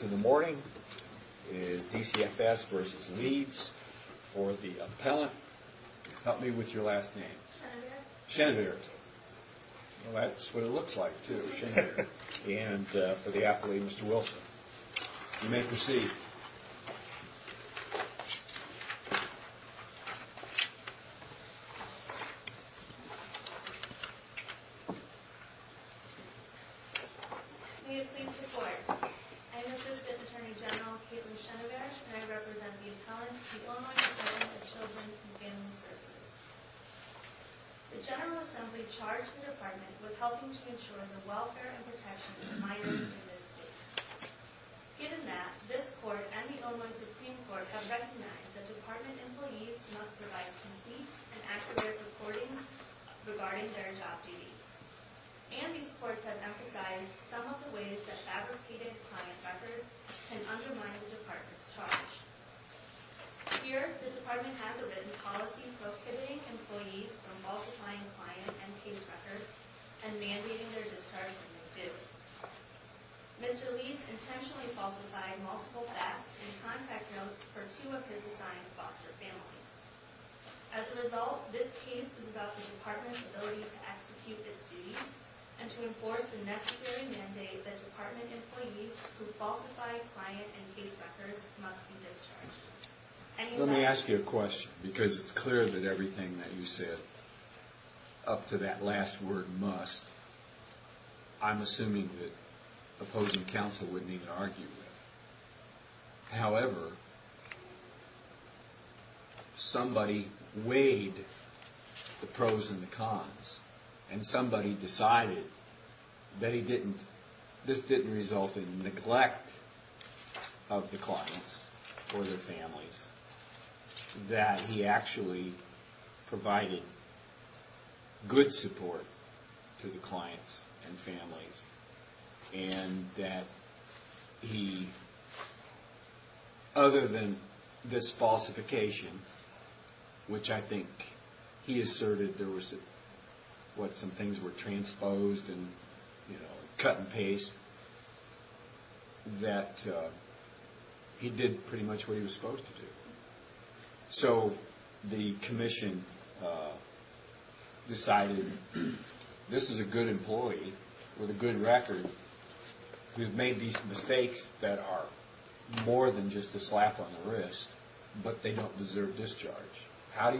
In the morning is DCFS versus Leeds. For the appellant, help me with your last name. Schoenberg. That's what it looks like too, Schoenberg. And for the athlete, Mr. Wilson. You may proceed. May it please the court. I am Assistant Attorney General Kaitlyn Schoenberg and I represent the appellant, the Illinois Department of Children and Family Services. The General Assembly charged the department with helping to ensure the welfare and protection of minors in this state. Given that, this court and the Illinois Supreme Court have recognized that department employees must provide complete and accurate reporting regarding their job duties. And these courts have emphasized some of the ways that fabricated client records can undermine the department's charge. Here, the department has a written policy prohibiting employees from falsifying client and case records and mandating their discharging of dues. Mr. Leeds intentionally falsified multiple facts and contact notes for two of his assigned foster families. As a result, this case is about the department's ability to execute its duties and to enforce the necessary mandate that department employees who falsify client and case records must be discharged. Let me ask you a question because it's clear that everything that you said up to that last word must, I'm assuming that opposing counsel would need to argue with. However, somebody weighed the pros and the cons and somebody decided that this didn't result in neglect of the clients or their families. That he actually provided good support to the clients and families and that he, other than this falsification, which I think he asserted there was what some things were transposed and cut and paste. That he did pretty much what he was supposed to do. So the commission decided this is a good employee with a good record who's made these mistakes that are more than just a slap on the wrist, but they don't deserve discharge. How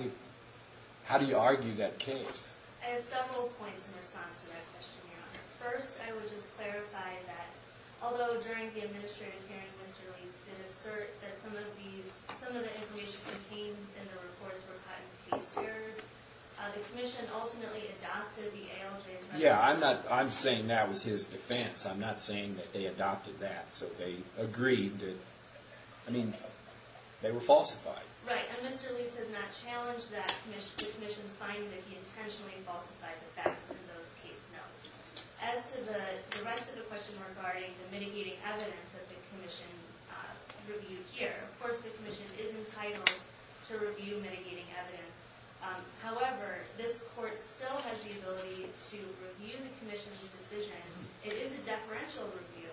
do you argue that case? I have several points in response to that question, Your Honor. First, I would just clarify that although during the administrative hearing, Mr. Leeds did assert that some of the information contained in the reports were cut and pasted. The commission ultimately adopted the ALJ's resolution. Yeah, I'm saying that was his defense. I'm not saying that they adopted that. So they agreed to, I mean, they were falsified. Right, and Mr. Leeds has not challenged the commission's finding that he intentionally falsified the facts in those case notes. As to the rest of the question regarding the mitigating evidence that the commission reviewed here, of course the commission is entitled to review mitigating evidence. However, this court still has the ability to review the commission's decision. It is a deferential review.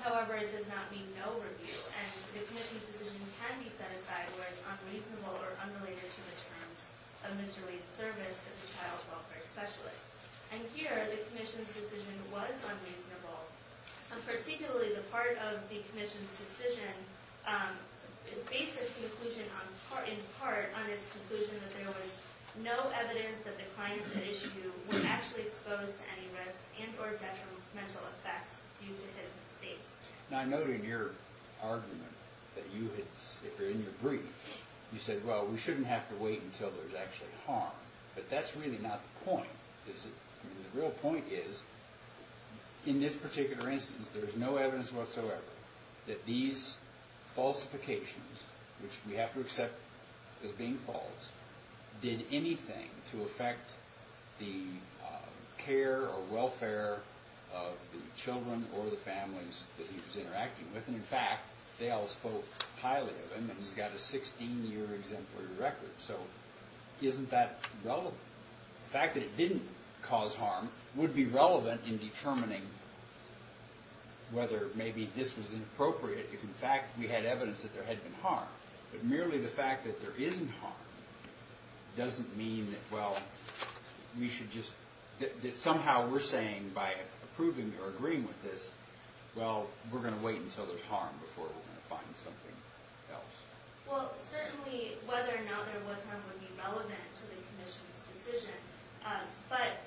However, it does not mean no review. And the commission's decision can be set aside where it's unreasonable or unrelated to the terms of Mr. Leeds' service as a child welfare specialist. And here the commission's decision was unreasonable. Particularly the part of the commission's decision based its conclusion in part on its conclusion that there was no evidence that the clients at issue were actually exposed to any risk and or detrimental effects due to his mistakes. Now I noted in your argument that you had, if you're in your brief, you said, well, we shouldn't have to wait until there's actually harm. But that's really not the point. The real point is, in this particular instance, there's no evidence whatsoever that these falsifications, which we have to accept as being false, did anything to affect the care or welfare of the children or the families that he was interacting with. And in fact, they all spoke highly of him, and he's got a 16-year exemplary record. So isn't that relevant? The fact that it didn't cause harm would be relevant in determining whether maybe this was inappropriate if, in fact, we had evidence that there had been harm. But merely the fact that there isn't harm doesn't mean that somehow we're saying by approving or agreeing with this, well, we're going to wait until there's harm before we're going to find something else. Well, certainly whether or not there was harm would be relevant to the commission's decision. But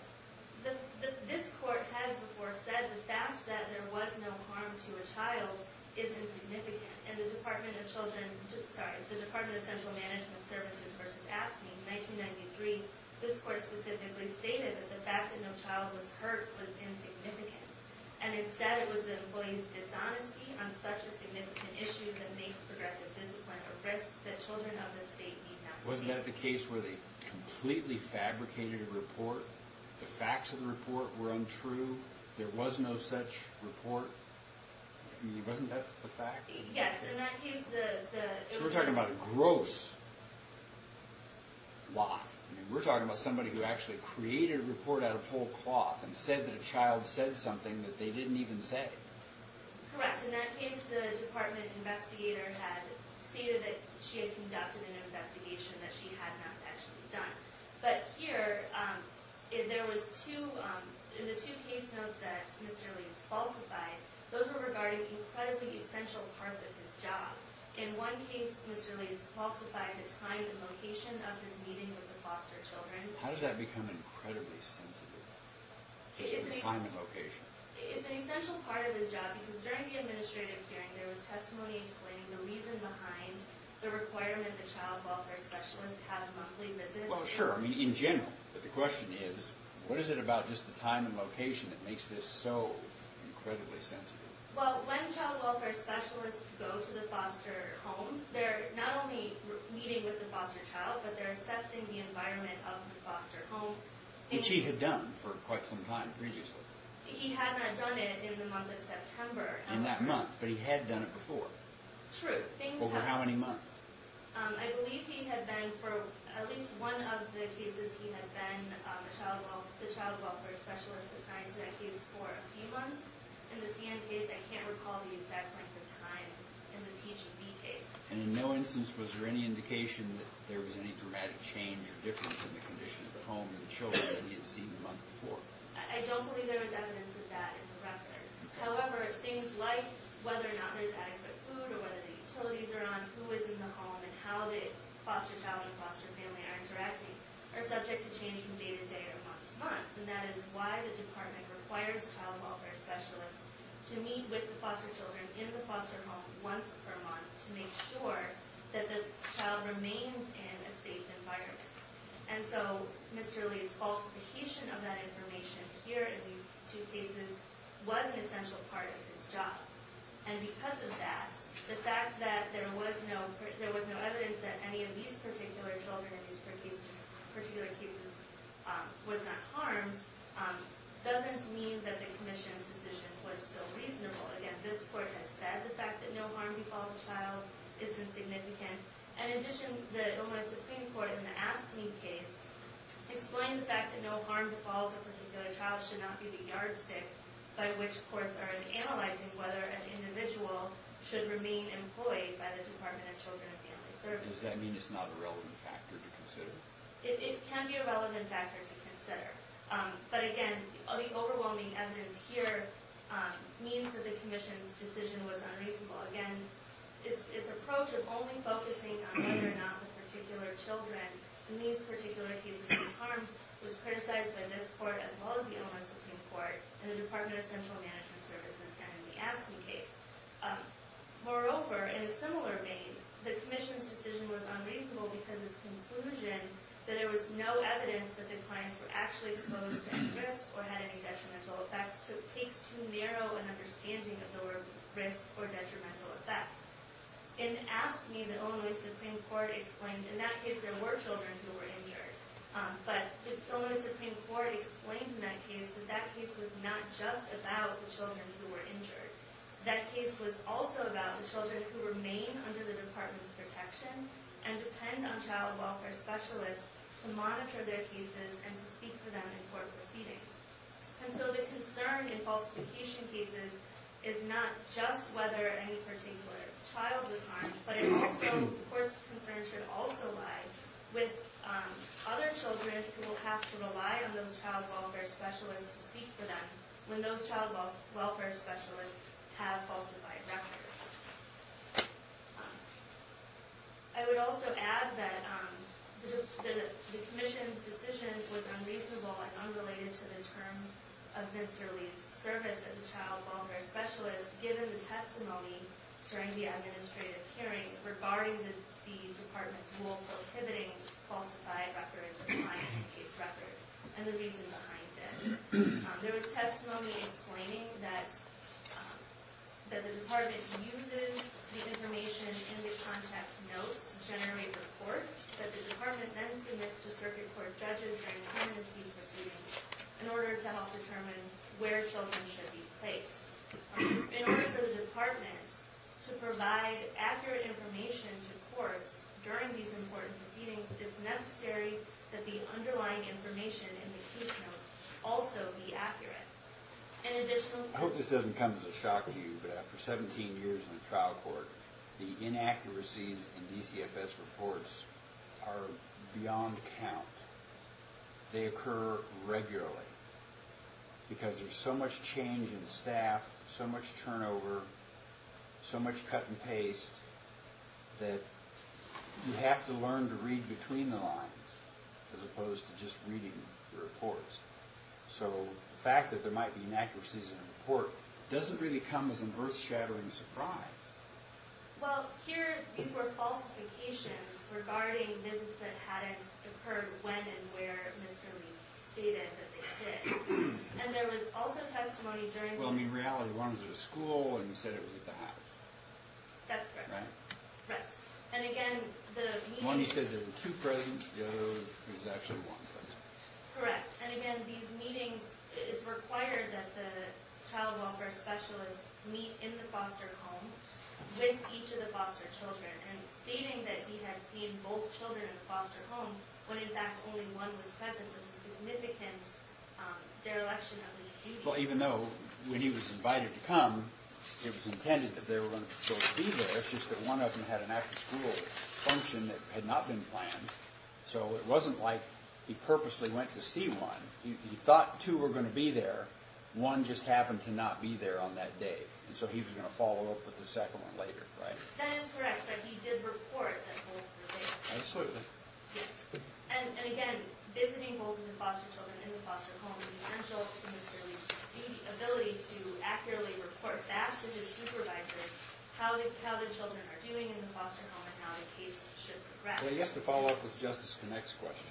this court has before said the fact that there was no harm to a child is insignificant. In the Department of Children – sorry, the Department of Central Management Services v. AFSCME, 1993, this court specifically stated that the fact that no child was hurt was insignificant. And instead, it was the employee's dishonesty on such a significant issue that makes progressive discipline a risk that children of this state need not be. Wasn't that the case where they completely fabricated a report, the facts of the report were untrue, there was no such report? I mean, wasn't that the fact? Yes, in that case, the – So we're talking about a gross lie. I mean, we're talking about somebody who actually created a report out of whole cloth and said that a child said something that they didn't even say. Correct. In that case, the department investigator had stated that she had conducted an investigation that she had not actually done. But here, there was two – in the two case notes that Mr. Leeds falsified, those were regarding incredibly essential parts of his job. In one case, Mr. Leeds falsified the time and location of his meeting with the foster children. How does that become incredibly sensitive? It's an essential – The time and location. It's an essential part of his job because during the administrative hearing, there was testimony explaining the reason behind the requirement that child welfare specialists have monthly visits. Well, sure. I mean, in general. But the question is, what is it about just the time and location that makes this so incredibly sensitive? Well, when child welfare specialists go to the foster homes, they're not only meeting with the foster child, but they're assessing the environment of the foster home. Which he had done for quite some time previously. He had not done it in the month of September. In that month, but he had done it before. True. Over how many months? I believe he had been, for at least one of the cases, he had been the child welfare specialist assigned to that case for a few months. In the CN case, I can't recall the exact length of time in the PHB case. And in no instance was there any indication that there was any dramatic change or difference in the condition of the home and the children that he had seen the month before? I don't believe there was evidence of that in the record. However, things like whether or not there's adequate food or whether the utilities are on, who is in the home, and how the foster child and foster family are interacting are subject to change from day to day or month to month. And that is why the department requires child welfare specialists to meet with the foster children in the foster home once per month to make sure that the child remains in a safe environment. And so Mr. Lee's falsification of that information here in these two cases was an essential part of his job. And because of that, the fact that there was no evidence that any of these particular children in these particular cases was not harmed doesn't mean that the commission's decision was still reasonable. Again, this court has said the fact that no harm befalls a child isn't significant. And in addition, the Illinois Supreme Court in the AFSCME case explained the fact that no harm befalls a particular child should not be the yardstick by which courts are analyzing whether an individual should remain employed by the Department of Children and Family Services. Does that mean it's not a relevant factor to consider? It can be a relevant factor to consider. But again, the overwhelming evidence here means that the commission's decision was unreasonable. Again, its approach of only focusing on whether or not the particular children in these particular cases was harmed was criticized by this court as well as the Illinois Supreme Court and the Department of Central Management Services in the AFSCME case. Moreover, in a similar vein, the commission's decision was unreasonable because its conclusion that there was no evidence that the clients were actually exposed to any risk or had any detrimental effects takes too narrow an understanding of the word risk or detrimental effects. In AFSCME, the Illinois Supreme Court explained in that case there were children who were injured. But the Illinois Supreme Court explained in that case that that case was not just about the children who were injured. That case was also about the children who remain under the Department's protection and depend on child welfare specialists to monitor their cases and to speak for them in court proceedings. And so the concern in falsification cases is not just whether any particular child was harmed, but the court's concern should also lie with other children who will have to rely on those child welfare specialists to speak for them when those child welfare specialists have falsified records. I would also add that the commission's decision was unreasonable and unrelated to the terms of Mr. Lee's service as a child welfare specialist given the testimony during the administrative hearing regarding the Department's rule prohibiting falsified records and lying in case records and the reason behind it. There was testimony explaining that the Department uses the information in the contact notes to generate reports that the Department then submits to circuit court judges during pregnancy proceedings in order to help determine where children should be placed. In order for the Department to provide accurate information to courts during these important proceedings, it's necessary that the underlying information in the case notes also be accurate. I hope this doesn't come as a shock to you, but after 17 years in the trial court, the inaccuracies in DCFS reports are beyond count. They occur regularly because there's so much change in staff, so much turnover, so much cut and paste that you have to learn to read between the lines as opposed to just reading the reports. So the fact that there might be inaccuracies in a report doesn't really come as an earth-shattering surprise. Well, here, these were falsifications regarding visits that hadn't occurred when and where Mr. Lee stated that they did. And there was also testimony during the... Well, in reality, one was at a school and he said it was at the house. That's correct. Right? Right. And again, the... One, he said there were two present. The other, there was actually one present. Correct. And again, these meetings, it's required that the child welfare specialists meet in the foster home with each of the foster children. And stating that he had seen both children in the foster home when, in fact, only one was present was a significant dereliction of his duty. Well, even though when he was invited to come, it was intended that they were going to be there, it's just that one of them had an after-school function that had not been planned. So it wasn't like he purposely went to see one. He thought two were going to be there. One just happened to not be there on that day. And so he was going to follow up with the second one later. Right? That is correct. But he did report that both were there. Absolutely. Yes. And again, visiting both of the foster children in the foster home, the adult to Mr. Lee, the ability to accurately report back to his supervisor how the children are doing in the foster home and how the case should progress. Well, I guess to follow up with Justice Connick's question,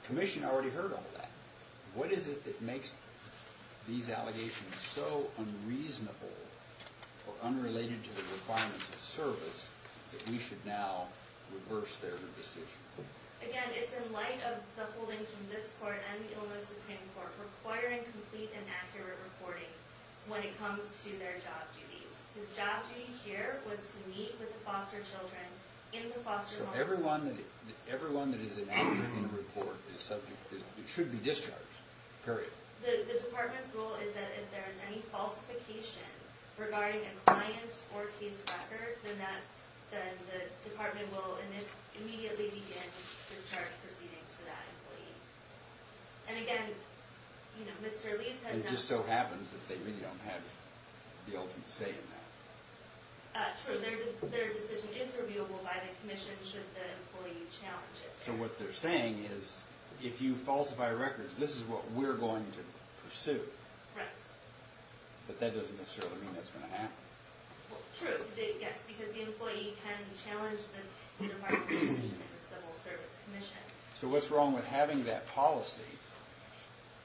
the Commission already heard all that. What is it that makes these allegations so unreasonable or unrelated to the requirements of service that we should now reverse their decision? Again, it's in light of the holdings from this Court and the Illinois Supreme Court requiring complete and accurate reporting when it comes to their job duties. His job duty here was to meet with the foster children in the foster home. So everyone that is in action in court is subject to – should be discharged. Period. The department's rule is that if there is any falsification regarding a client or case record, then the department will immediately begin to start proceedings for that employee. And again, Mr. Lee – It just so happens that they really don't have the ultimate say in that. True. Their decision is reviewable by the Commission should the employee challenge it. So what they're saying is if you falsify records, this is what we're going to pursue. Correct. But that doesn't necessarily mean that's going to happen. True. Yes. Because the employee can challenge the department's decision and the Civil Service Commission. So what's wrong with having that policy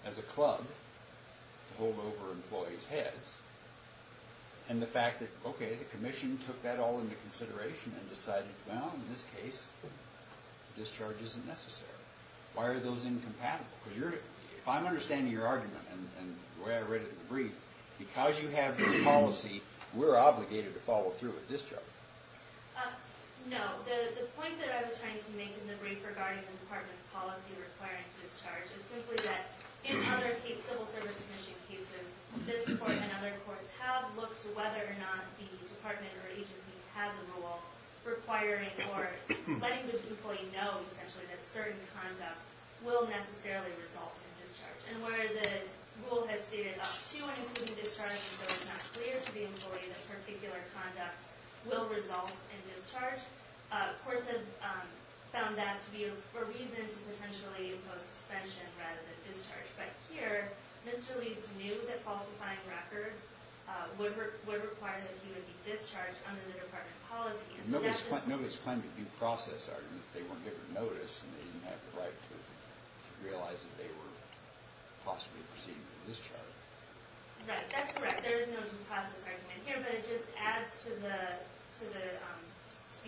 as a club to hold over employees' heads and the fact that, okay, the Commission took that all into consideration and decided, well, in this case, discharge isn't necessary. Why are those incompatible? Because you're – if I'm understanding your argument and the way I read it in the brief, because you have this policy, we're obligated to follow through with discharge. No. The point that I was trying to make in the brief regarding the department's policy requiring discharge is simply that in other Civil Service Commission cases, this Court and other courts have looked to whether or not the department or agency has a rule requiring or letting the employee know, essentially, that certain conduct will necessarily result in discharge. And where the rule has stated up to and including discharge until it's not clear to the employee that particular conduct will result in discharge, courts have found that to be a reason to potentially impose suspension rather than discharge. But here, Mr. Leeds knew that falsifying records would require that he would be discharged under the department policy. Nobody's claiming due process argument that they weren't given notice and they didn't have the right to realize that they were possibly proceeding with a discharge. Right. That's correct. There is no due process argument here. But it just adds to the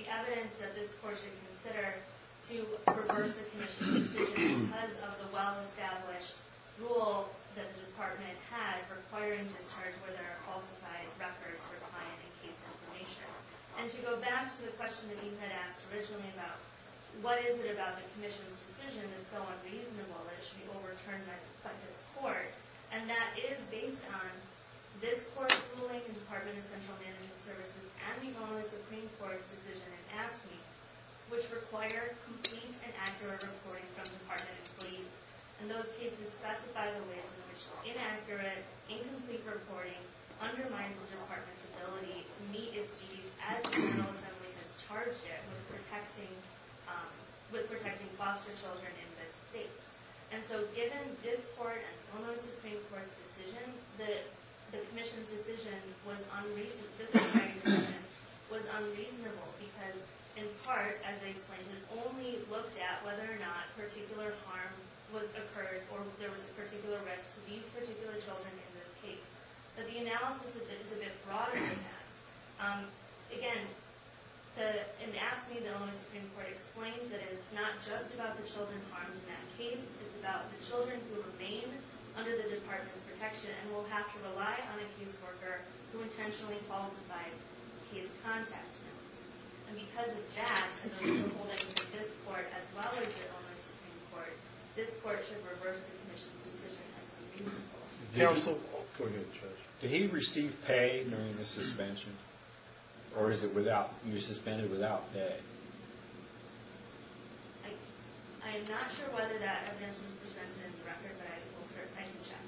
evidence that this Court should consider to reverse the Commission's decision because of the well-established rule that the department had requiring discharge where there are falsified records requiring case information. And to go back to the question that you had asked originally about what is it about the Commission's decision that's so unreasonable that it should be overturned by this Court, and that it is based on this Court's ruling and Department of Central Management Services and the only Supreme Court's decision in AFSCME, which require complete and accurate reporting from department employees. And those cases specify the ways in which inaccurate, incomplete reporting undermines the department's ability to meet its duties as the Federal Assembly has charged it with protecting foster children in this state. And so given this Court and the only Supreme Court's decision, the Commission's decision was unreasonable because in part, as I explained, it only looked at whether or not particular harm was occurred or there was a particular risk to these particular children in this case. But the analysis is a bit broader than that. Again, in AFSCME, the only Supreme Court explains that it's not just about the children harmed in that case, it's about the children who remain under the department's protection and will have to rely on a caseworker who intentionally falsified case contact notes. And because of that, and the rule holding that this Court, as well as the only Supreme Court, this Court should reverse the Commission's decision as unreasonable. Counsel? Go ahead, Judge. Did he receive pay during the suspension? Or is it without, you suspended without pay? I'm not sure whether that evidence was presented in the record, but I can check.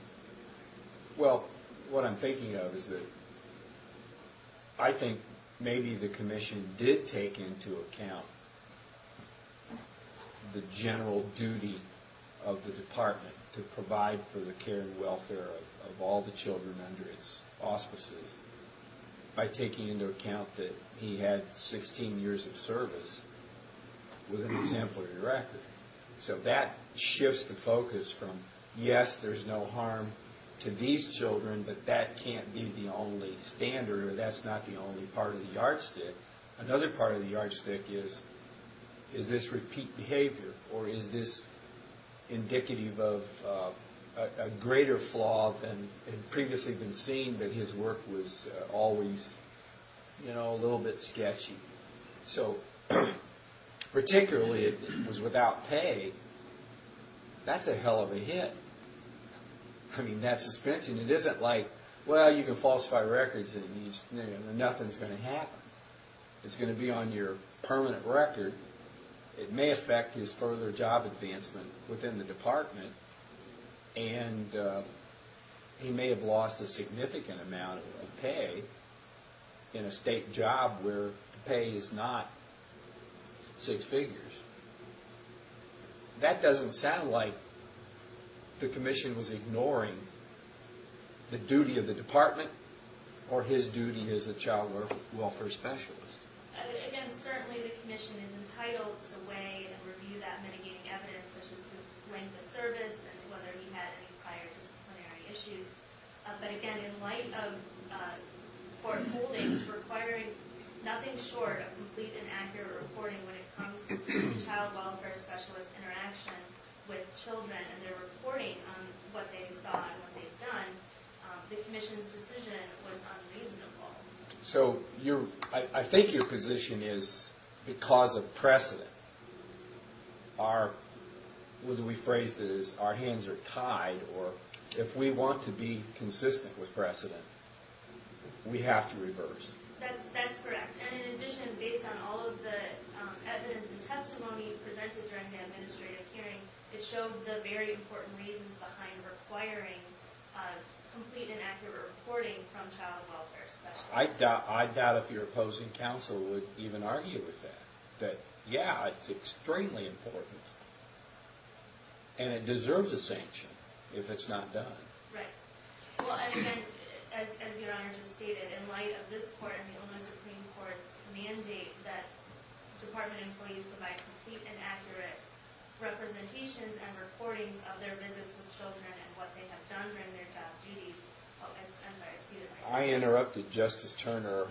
Well, what I'm thinking of is that I think maybe the Commission did take into account the general duty of the department to provide for the care and welfare of all the children under its auspices by taking into account that he had 16 years of service with an exemplary record. So that shifts the focus from, yes, there's no harm to these children, but that can't be the only standard, or that's not the only part of the yardstick. Another part of the yardstick is, is this repeat behavior, or is this indicative of a greater flaw than had previously been seen, that his work was always, you know, a little bit sketchy. So, particularly if it was without pay, that's a hell of a hit. I mean, that suspension, it isn't like, well, you can falsify records and nothing's going to happen. It's going to be on your permanent record. It may affect his further job advancement within the department, and he may have lost a significant amount of pay in a state job where pay is not six figures. That doesn't sound like the Commission was ignoring the duty of the department or his duty as a child welfare specialist. Again, certainly the Commission is entitled to weigh and review that mitigating evidence, such as his length of service and whether he had any prior disciplinary issues. But again, in light of court holdings requiring nothing short of complete and accurate reporting when it comes to child welfare specialist interaction with children and their reporting on what they saw and what they've done, the Commission's decision was unreasonable. So, I think your position is, because of precedent, whether we phrased it as our hands are tied, or if we want to be consistent with precedent, we have to reverse. That's correct. And in addition, based on all of the evidence and testimony presented during the administrative hearing, it showed the very important reasons behind requiring complete and accurate reporting from child welfare specialists. I doubt if your opposing counsel would even argue with that. That, yeah, it's extremely important, and it deserves a sanction if it's not done. Right. Well, and again, as your Honor just stated, in light of this Court and the Illinois Supreme Court's mandate that department employees provide complete and accurate representations and recordings of their visits with children and what they have done during their job duties, I'm sorry, I ceded my time. I interrupted Justice Turner,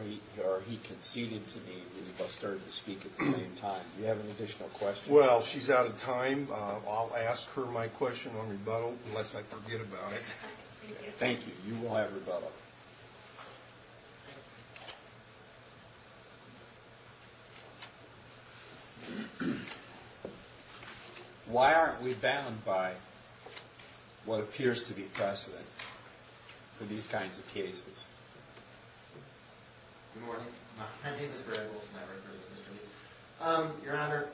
or he conceded to me, and you both started to speak at the same time. Do you have an additional question? Well, she's out of time. I'll ask her my question on rebuttal, unless I forget about it. Thank you. Thank you. You will have rebuttal. Why aren't we bound by what appears to be precedent for these kinds of cases? Good morning. My name is Brad Wilson. I work for the district. Your Honor,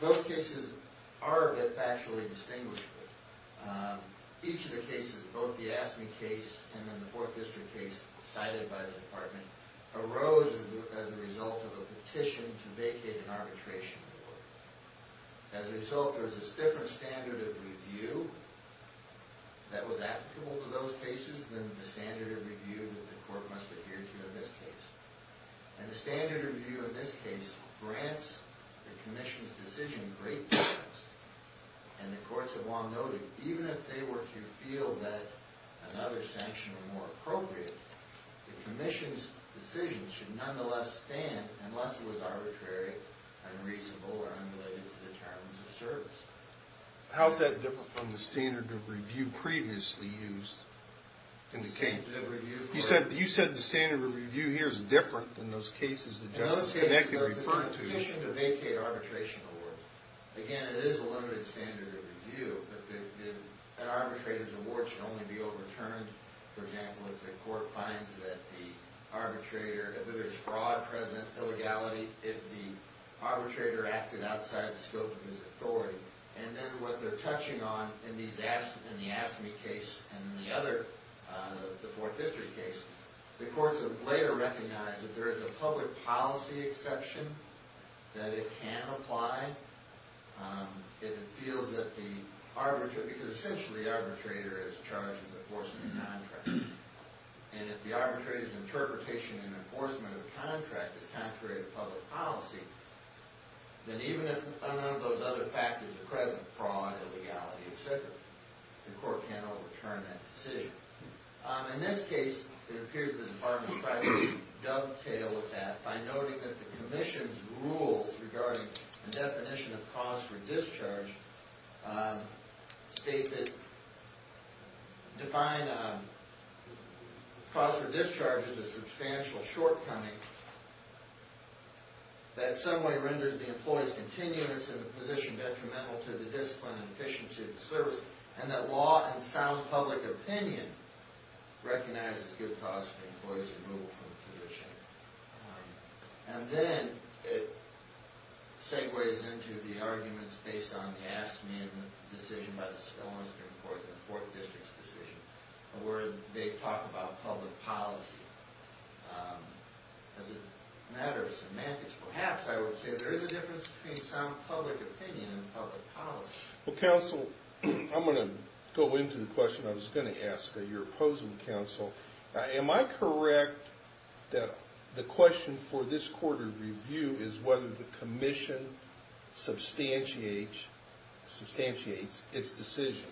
those cases are factually distinguishable. Each of the cases, both the AFSCME case and then the Fourth District case cited by the department, arose as a result of a petition to vacate an arbitration board. As a result, there was a different standard of review that was applicable to those cases than the standard of review that the Court must adhere to in this case. And the standard of review in this case grants the Commission's decision great defense. And the Courts have long noted, even if they were to feel that another sanction was more appropriate, the Commission's decision should nonetheless stand, unless it was arbitrary, unreasonable, or unrelated to the terms of service. How is that different from the standard of review previously used? The standard of review? You said the standard of review here is different than those cases that Justice Connected referred to. In those cases, the petition to vacate arbitration boards, again, it is a limited standard of review. An arbitrator's award should only be overturned, for example, if the Court finds that the arbitrator, if there is fraud present, illegality, if the arbitrator acted outside the scope of his authority. And then what they're touching on in the AFSCME case and the other, the Fourth District case, the Courts have later recognized that there is a public policy exception that it can apply if it feels that the arbitrator, because essentially the arbitrator is charged with enforcement of contract. And if the arbitrator's interpretation in enforcement of contract is contrary to public policy, then even if none of those other factors are present, fraud, illegality, etc., the Court can't overturn that decision. In this case, it appears that the Department of Privacy dovetailed with that by noting that the Commission's rules regarding the definition of cause for discharge state that, define cause for discharge as a substantial shortcoming that in some way renders the employee's continuance in the position detrimental to the discipline and efficiency of the service, and that law and sound public opinion recognizes good cause for the employee's removal from the position. And then it segues into the arguments based on AFSCME and the decision by the Spelman Supreme Court, the Fourth District's decision, where they talk about public policy as a matter of semantics. Perhaps I would say there is a difference between sound public opinion and public policy. Well, Counsel, I'm going to go into the question I was going to ask of your opposing counsel. Am I correct that the question for this Court of Review is whether the Commission substantiates its decision?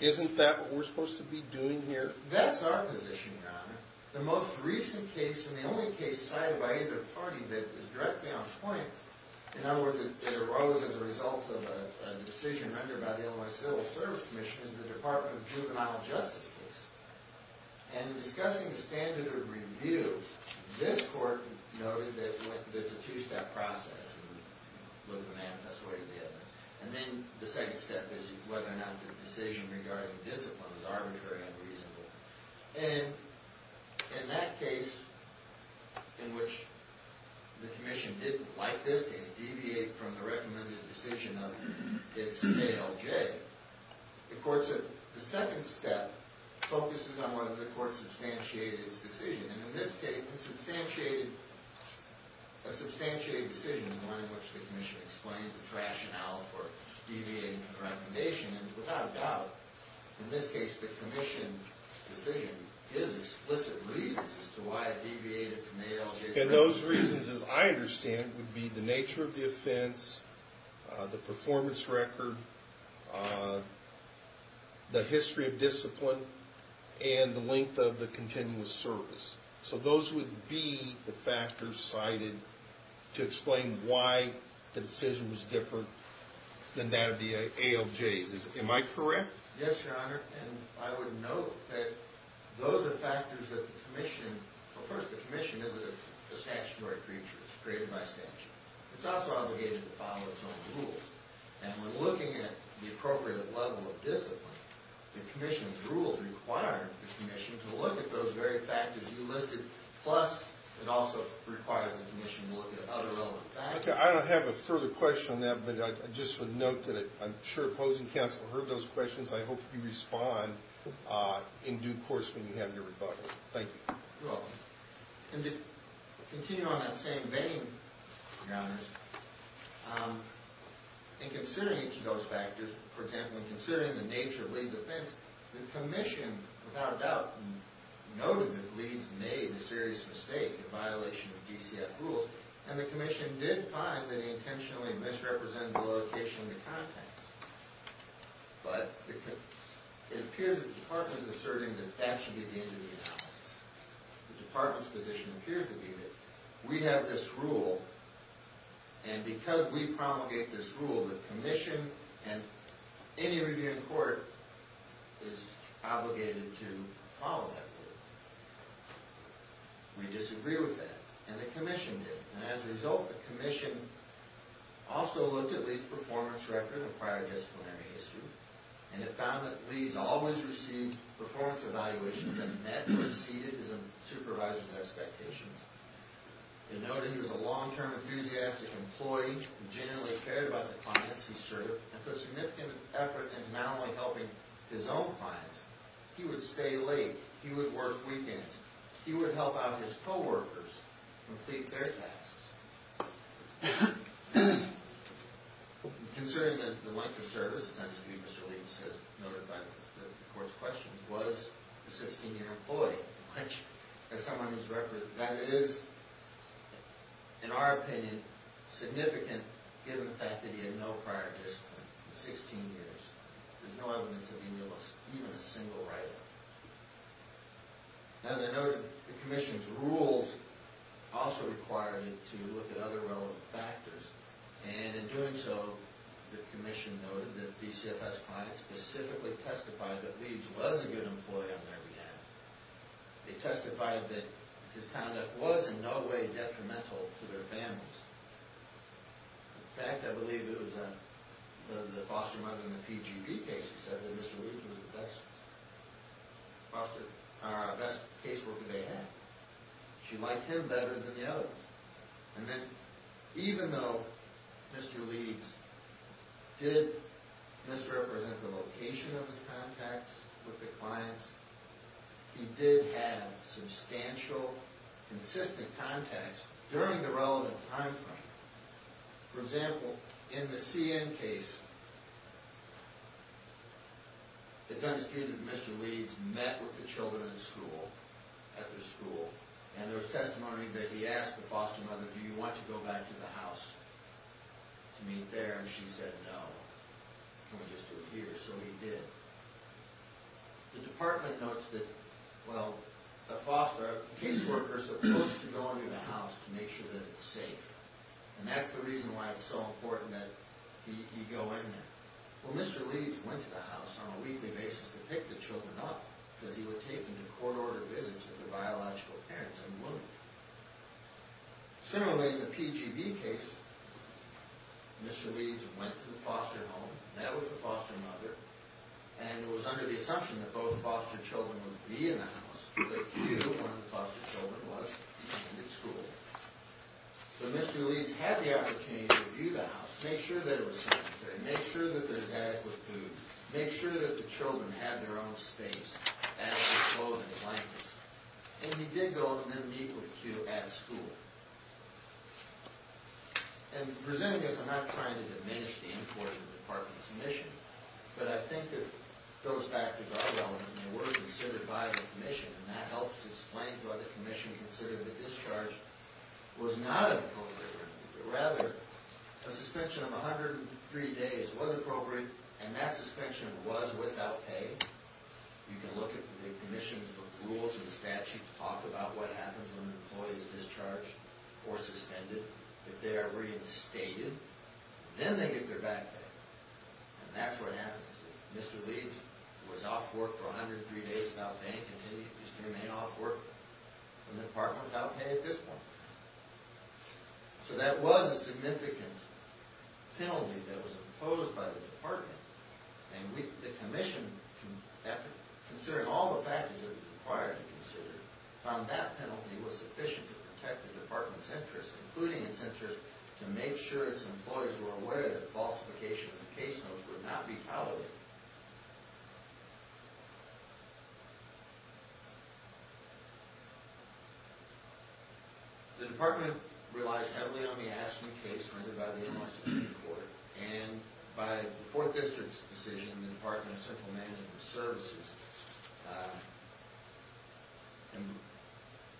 Isn't that what we're supposed to be doing here? That's our position, Your Honor. The most recent case, and the only case cited by either party that is directly on point, in other words, it arose as a result of a decision rendered by the Illinois Civil Service Commission, is the Department of Juvenile Justice case. And in discussing the standard of review, this Court noted that it's a two-step process, and we look at the manifest way of the evidence. And then the second step is whether or not the decision regarding discipline is arbitrary and reasonable. And in that case, in which the Commission didn't, like this case, deviate from the recommended decision of its ALJ, the second step focuses on whether the Court substantiated its decision. And in this case, a substantiated decision is one in which the Commission explains its rationale for deviating from the recommendation. And without a doubt, in this case, the Commission's decision gives explicit reasons as to why it deviated from the ALJ's recommendation. And those reasons, as I understand, would be the nature of the offense, the performance record, the history of discipline, and the length of the continuous service. So those would be the factors cited to explain why the decision was different than that of the ALJ's. Am I correct? Yes, Your Honor. And I would note that those are factors that the Commission, well, first, the Commission is a statutory creature. It's created by statute. It's also obligated to follow its own rules. And when looking at the appropriate level of discipline, the Commission's rules require the Commission to look at those very factors you listed, plus it also requires the Commission to look at other relevant factors. Okay. I don't have a further question on that, but I just would note that I'm sure opposing counsel heard those questions. I hope you respond in due course when you have your rebuttal. Thank you. And to continue on that same vein, Your Honors, in considering each of those factors, for example, in considering the nature of Leeds' offense, the Commission, without a doubt, noted that Leeds made a serious mistake in violation of DCF rules, and the Commission did find that he intentionally misrepresented the location of the contacts. But it appears that the Department is asserting that that should be the end of the analysis. The Department's position appears to be that we have this rule, and because we promulgate this rule, the Commission and any review in court is obligated to follow that rule. We disagree with that, and the Commission did. And as a result, the Commission also looked at Leeds' performance record and prior disciplinary history, and it found that Leeds always received performance evaluations that met or exceeded his supervisor's expectations. It noted he was a long-term enthusiastic employee who genuinely cared about the clients he served, and put significant effort into not only helping his own clients. He would stay late. He would work weekends. He would help out his co-workers complete their tasks. Concerning the length of service, it's understood Mr. Leeds has noted that the court's question was the 16-year employee, which, as someone who's represented, that is, in our opinion, significant, given the fact that he had no prior discipline in 16 years. There's no evidence of him being even a single writer. Now, they noted the Commission's rules also required it to look at other relevant factors, and in doing so, the Commission noted that DCFS clients specifically testified that Leeds was a good employee on their behalf. They testified that his conduct was in no way detrimental to their families. In fact, I believe it was the foster mother in the PGB case who said that Mr. Leeds was the best. The best caseworker they had. She liked him better than the others. And then, even though Mr. Leeds did misrepresent the location of his contacts with the clients, he did have substantial, consistent contacts during the relevant time frame. For example, in the CN case, it's understood that Mr. Leeds met with the children in school, at their school, and there was testimony that he asked the foster mother, do you want to go back to the house to meet there? And she said, no, can we just do it here? So he did. The department notes that, well, the caseworker is supposed to go into the house to make sure that it's safe. And that's the reason why it's so important that he go in there. Well, Mr. Leeds went to the house on a weekly basis to pick the children up, because he would take them to court-ordered visits with their biological parents and women. Similarly, in the PGB case, Mr. Leeds went to the foster home, and that was the foster mother, and it was under the assumption that both foster children would be in the house, but Q, one of the foster children, was, and he ended school. So Mr. Leeds had the opportunity to view the house, make sure that it was sanitary, make sure that there was adequate food, make sure that the children had their own space, and that they were clothed in blankets. And he did go and then meet with Q at school. And presenting this, I'm not trying to diminish the importance of the department's mission, but I think that those factors are relevant, and they were considered by the commission, and that helps explain why the commission considered the discharge was not appropriate. Rather, a suspension of 103 days was appropriate, and that suspension was without pay. You can look at the commission's rules and statutes, talk about what happens when an employee is discharged or suspended. If they are reinstated, then they get their back pay. And that's what happens. If Mr. Leeds was off work for 103 days without pay and continues to remain off work, the department is without pay at this point. So that was a significant penalty that was imposed by the department, and the commission, considering all the factors that it was required to consider, found that penalty was sufficient to protect the department's interests, including its interest to make sure its employees were aware that falsification of case notes would not be tolerated. The department relies heavily on the Ashton case rendered by the M.R. Supreme Court, and by the Fourth District's decision in the Department of Central Management Services. And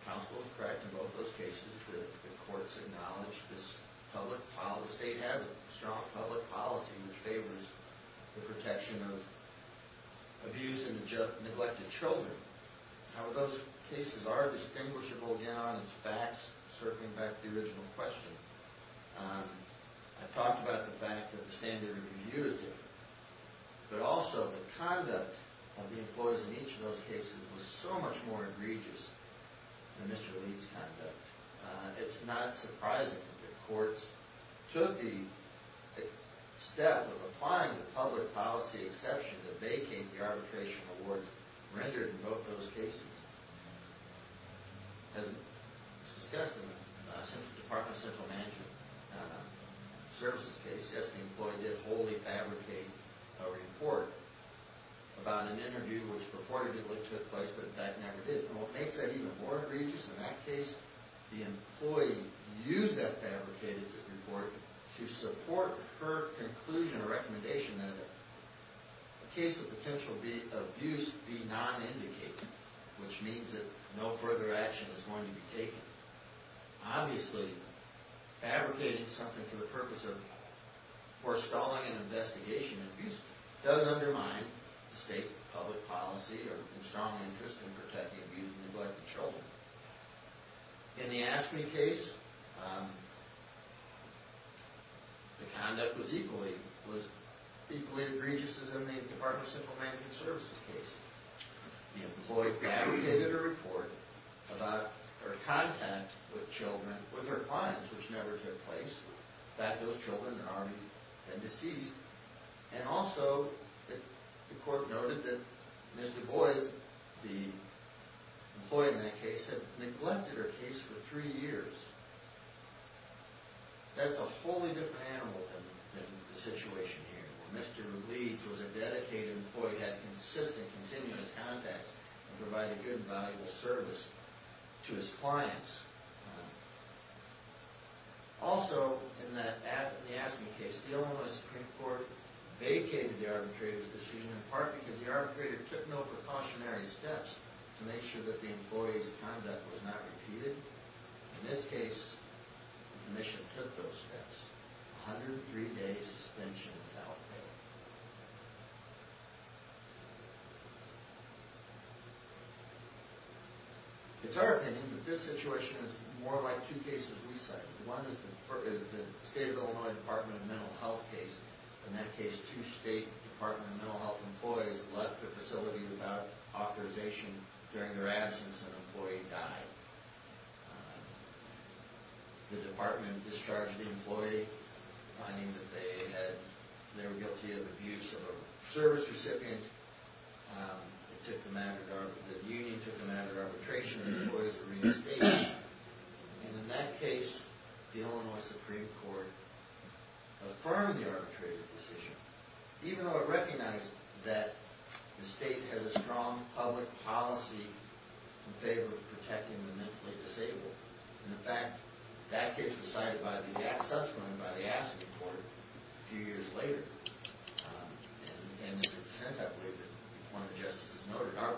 counsel is correct in both those cases. The courts acknowledge this public policy. The state has a strong public policy that favors the protection of abused and neglected children. However, those cases are distinguishable, again, on its facts, circling back to the original question. I talked about the fact that the standard of review is different. But also, the conduct of the employees in each of those cases was so much more egregious than Mr. Leeds' conduct. It's not surprising that the courts took the step of applying the public policy exception to vacate the arbitration awards rendered in both those cases. As discussed in the Department of Central Management Services case, yes, the employee did wholly fabricate a report about an interview which purportedly took place, but in fact never did. And what makes that even more egregious in that case, the employee used that fabricated report to support her conclusion or recommendation that a case of potential abuse be non-indicated, which means that no further action is going to be taken. Obviously, fabricating something for the purpose of or stalling an investigation of abuse does undermine the state public policy or strong interest in protecting abused and neglected children. In the AFSCME case, the conduct was equally egregious as in the Department of Central Management Services case. The employee fabricated a report about her contact with children, with her clients, which never took place, that those children had already been deceased. And also, the court noted that Mr. Boies, the employee in that case, had neglected her case for three years. That's a wholly different animal than the situation here. Mr. Leeds was a dedicated employee, had consistent, continuous contacts, and provided good and valuable service to his clients. Also, in the AFSCME case, the Illinois Supreme Court vacated the arbitrator's decision, in part because the arbitrator took no precautionary steps to make sure that the employee's conduct was not repeated. In this case, the commission took those steps. 103 days suspension without pay. It's our opinion that this situation is more like two cases we cite. One is the State of Illinois Department of Mental Health case. In that case, two State Department of Mental Health employees left the facility without authorization during their absence. An employee died. The department discharged the employee, finding that they were guilty of abuse of a service recipient. The union took the matter to arbitration, and the employees were reinstated. And in that case, the Illinois Supreme Court affirmed the arbitrator's decision, even though it recognized that the state has a strong public policy in favor of protecting the mentally disabled. In fact, that case was cited by the AFSCME court a few years later. And as it was sent, I believe, one of the justices noted, our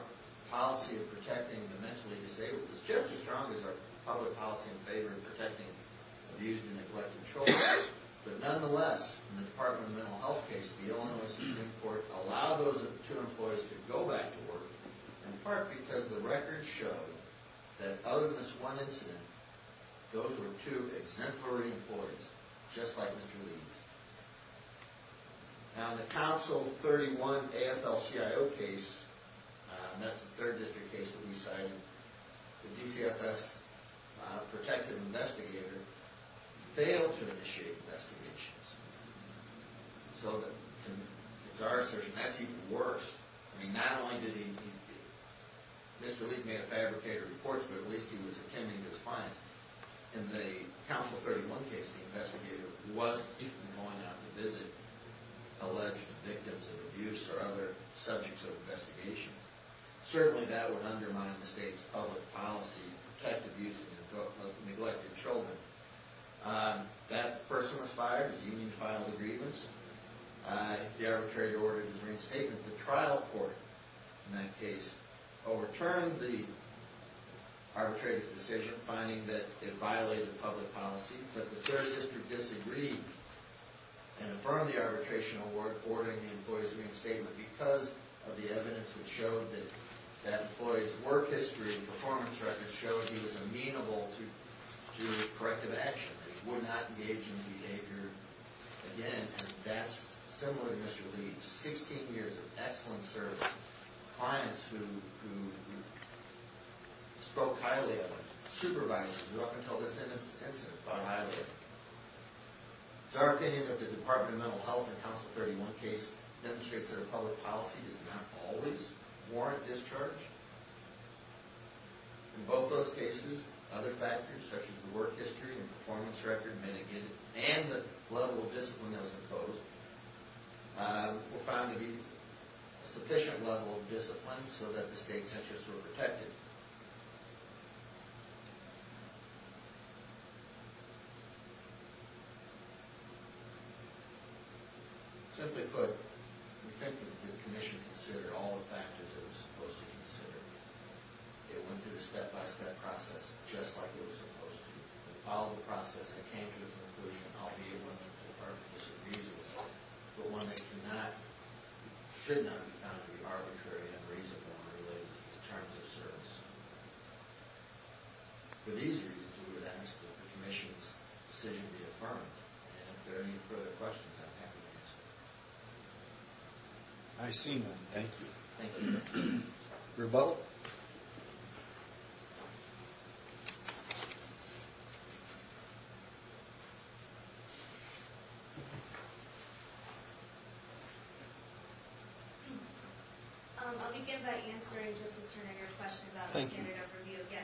policy of protecting the mentally disabled is just as strong as our public policy in favor of protecting abused and neglected children. But nonetheless, in the Department of Mental Health case, the Illinois Supreme Court allowed those two employees to go back to work, in part because the records show that other than this one incident, those were two exemplary employees, just like Mr. Leeds. Now, in the Council 31 AFL-CIO case, and that's the third district case that we cited, the DCFS protective investigator failed to initiate investigations. So in our assertion, that's even worse. I mean, not only did Mr. Leeds make a fabricated report, but at least he was attending to his clients. In the Council 31 case, the investigator wasn't even going out to visit alleged victims of abuse or other subjects of investigations. Certainly, that would undermine the state's public policy to protect abused and neglected children. That person was fired. His union filed a grievance. The arbitrator ordered his reinstatement. The trial court in that case overturned the arbitrator's decision, finding that it violated public policy. But the third district disagreed and affirmed the arbitration, ordering the employee's reinstatement because of the evidence that showed that that employee's work history and performance record showed he was amenable to corrective action. He would not engage in behavior again. And that's similar to Mr. Leeds. Sixteen years of excellent service. Clients who spoke highly of him. Supervisors who, up until this incident, thought highly of him. It's our opinion that the Department of Mental Health in the Council 31 case demonstrates that a public policy does not always warrant discharge. In both those cases, other factors, such as the work history and performance record mitigated and the level of discipline that was imposed, were found to be a sufficient level of discipline so that the state's interests were protected. Simply put, we think that the Commission considered all the factors it was supposed to consider. It went through the step-by-step process, just like it was supposed to. It followed the process and came to the conclusion, I'll be a woman if the Department of Mental Health disagrees with me, but one that should not be found to be arbitrary and unreasonable in relation to terms of service. For these reasons, we would ask that the Commission's decision be affirmed. And if there are any further questions, I'm happy to answer them. I see none. Thank you. Thank you. Rebel? Rebel? I'll begin by answering, Justice Turner, your question about the standard of review again.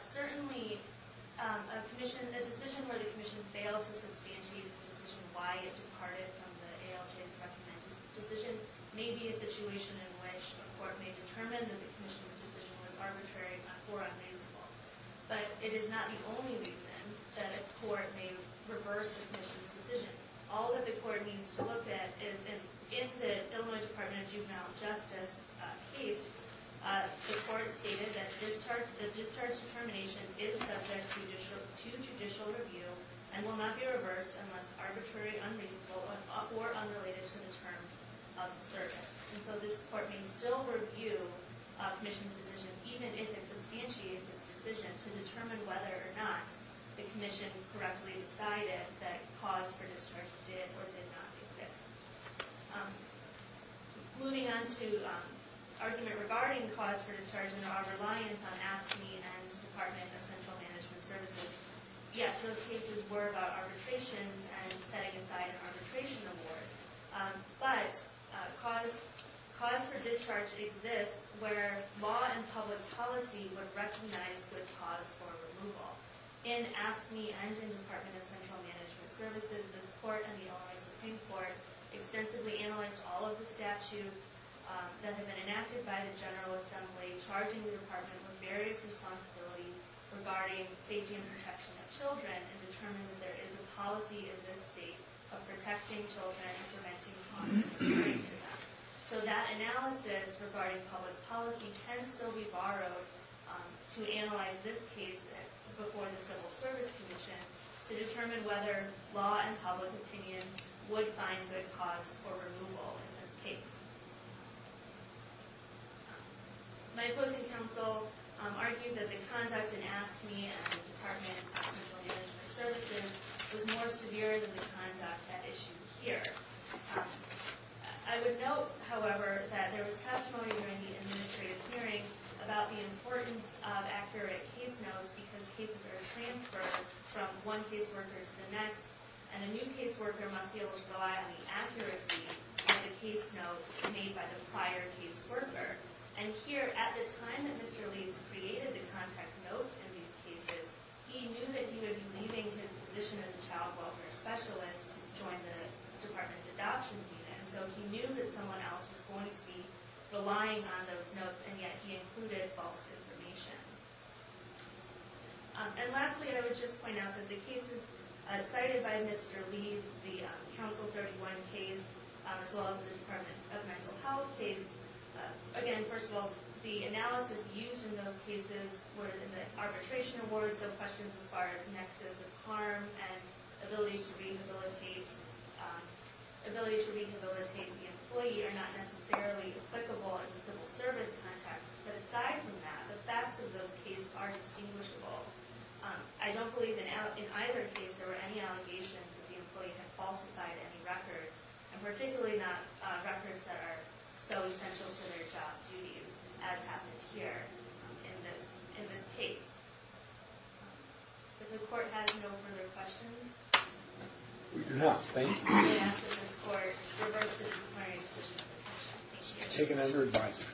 Certainly, a decision where the Commission failed to substantiate its decision, why it departed from the ALJ's recommended decision, may be a situation in which a court may determine that the Commission's decision was arbitrary or unreasonable. But it is not the only reason that a court may reverse the Commission's decision. All that the court needs to look at is, in the Illinois Department of Juvenile Justice case, the court stated that the discharge determination is subject to judicial review and will not be reversed unless arbitrary, unreasonable, or unrelated to the terms of service. And so this court may still review a Commission's decision, even if it substantiates its decision, to determine whether or not the Commission correctly decided that cause for discharge did or did not exist. Moving on to argument regarding cause for discharge and our reliance on AFSCME and Department of Central Management Services. Yes, those cases were about arbitrations and setting aside an arbitration award. But cause for discharge exists where law and public policy would recognize good cause for removal. In AFSCME and in Department of Central Management Services, this court and the Illinois Supreme Court extensively analyzed all of the statutes that have been enacted by the General Assembly, charging the Department with various responsibilities regarding safety and protection of children and determined that there is a policy in this state of protecting children and preventing harm to them. So that analysis regarding public policy can still be borrowed to analyze this case before the Civil Service Commission to determine whether law and public opinion would find good cause for removal in this case. My opposing counsel argued that the conduct in AFSCME and the Department of Central Management Services was more severe than the conduct at issue here. I would note, however, that there was testimony during the administrative hearing about the importance of accurate case notes because cases are transferred from one caseworker to the next and a new caseworker must be able to rely on the accuracy of the case notes made by the prior caseworker. And here, at the time that Mr. Leeds created the contact notes in these cases, he knew that he would be leaving his position as a child welfare specialist to join the Department's adoptions unit. So he knew that someone else was going to be relying on those notes, and yet he included false information. And lastly, I would just point out that the cases cited by Mr. Leeds, the Council 31 case as well as the Department of Mental Health case, again, first of all, the analysis used in those cases were in the arbitration awards, so questions as far as nexus of harm and ability to rehabilitate the employee are not necessarily applicable in the Civil Service context. But aside from that, the facts of those cases are distinguishable. I don't believe in either case there were any allegations that the employee had falsified any records, and particularly not records that are so essential to their job duties, as happened here in this case. If the Court has no further questions... We do not. Thank you. I ask that this Court reverse the disciplinary decision of the petition. Thank you. Take it under advisory.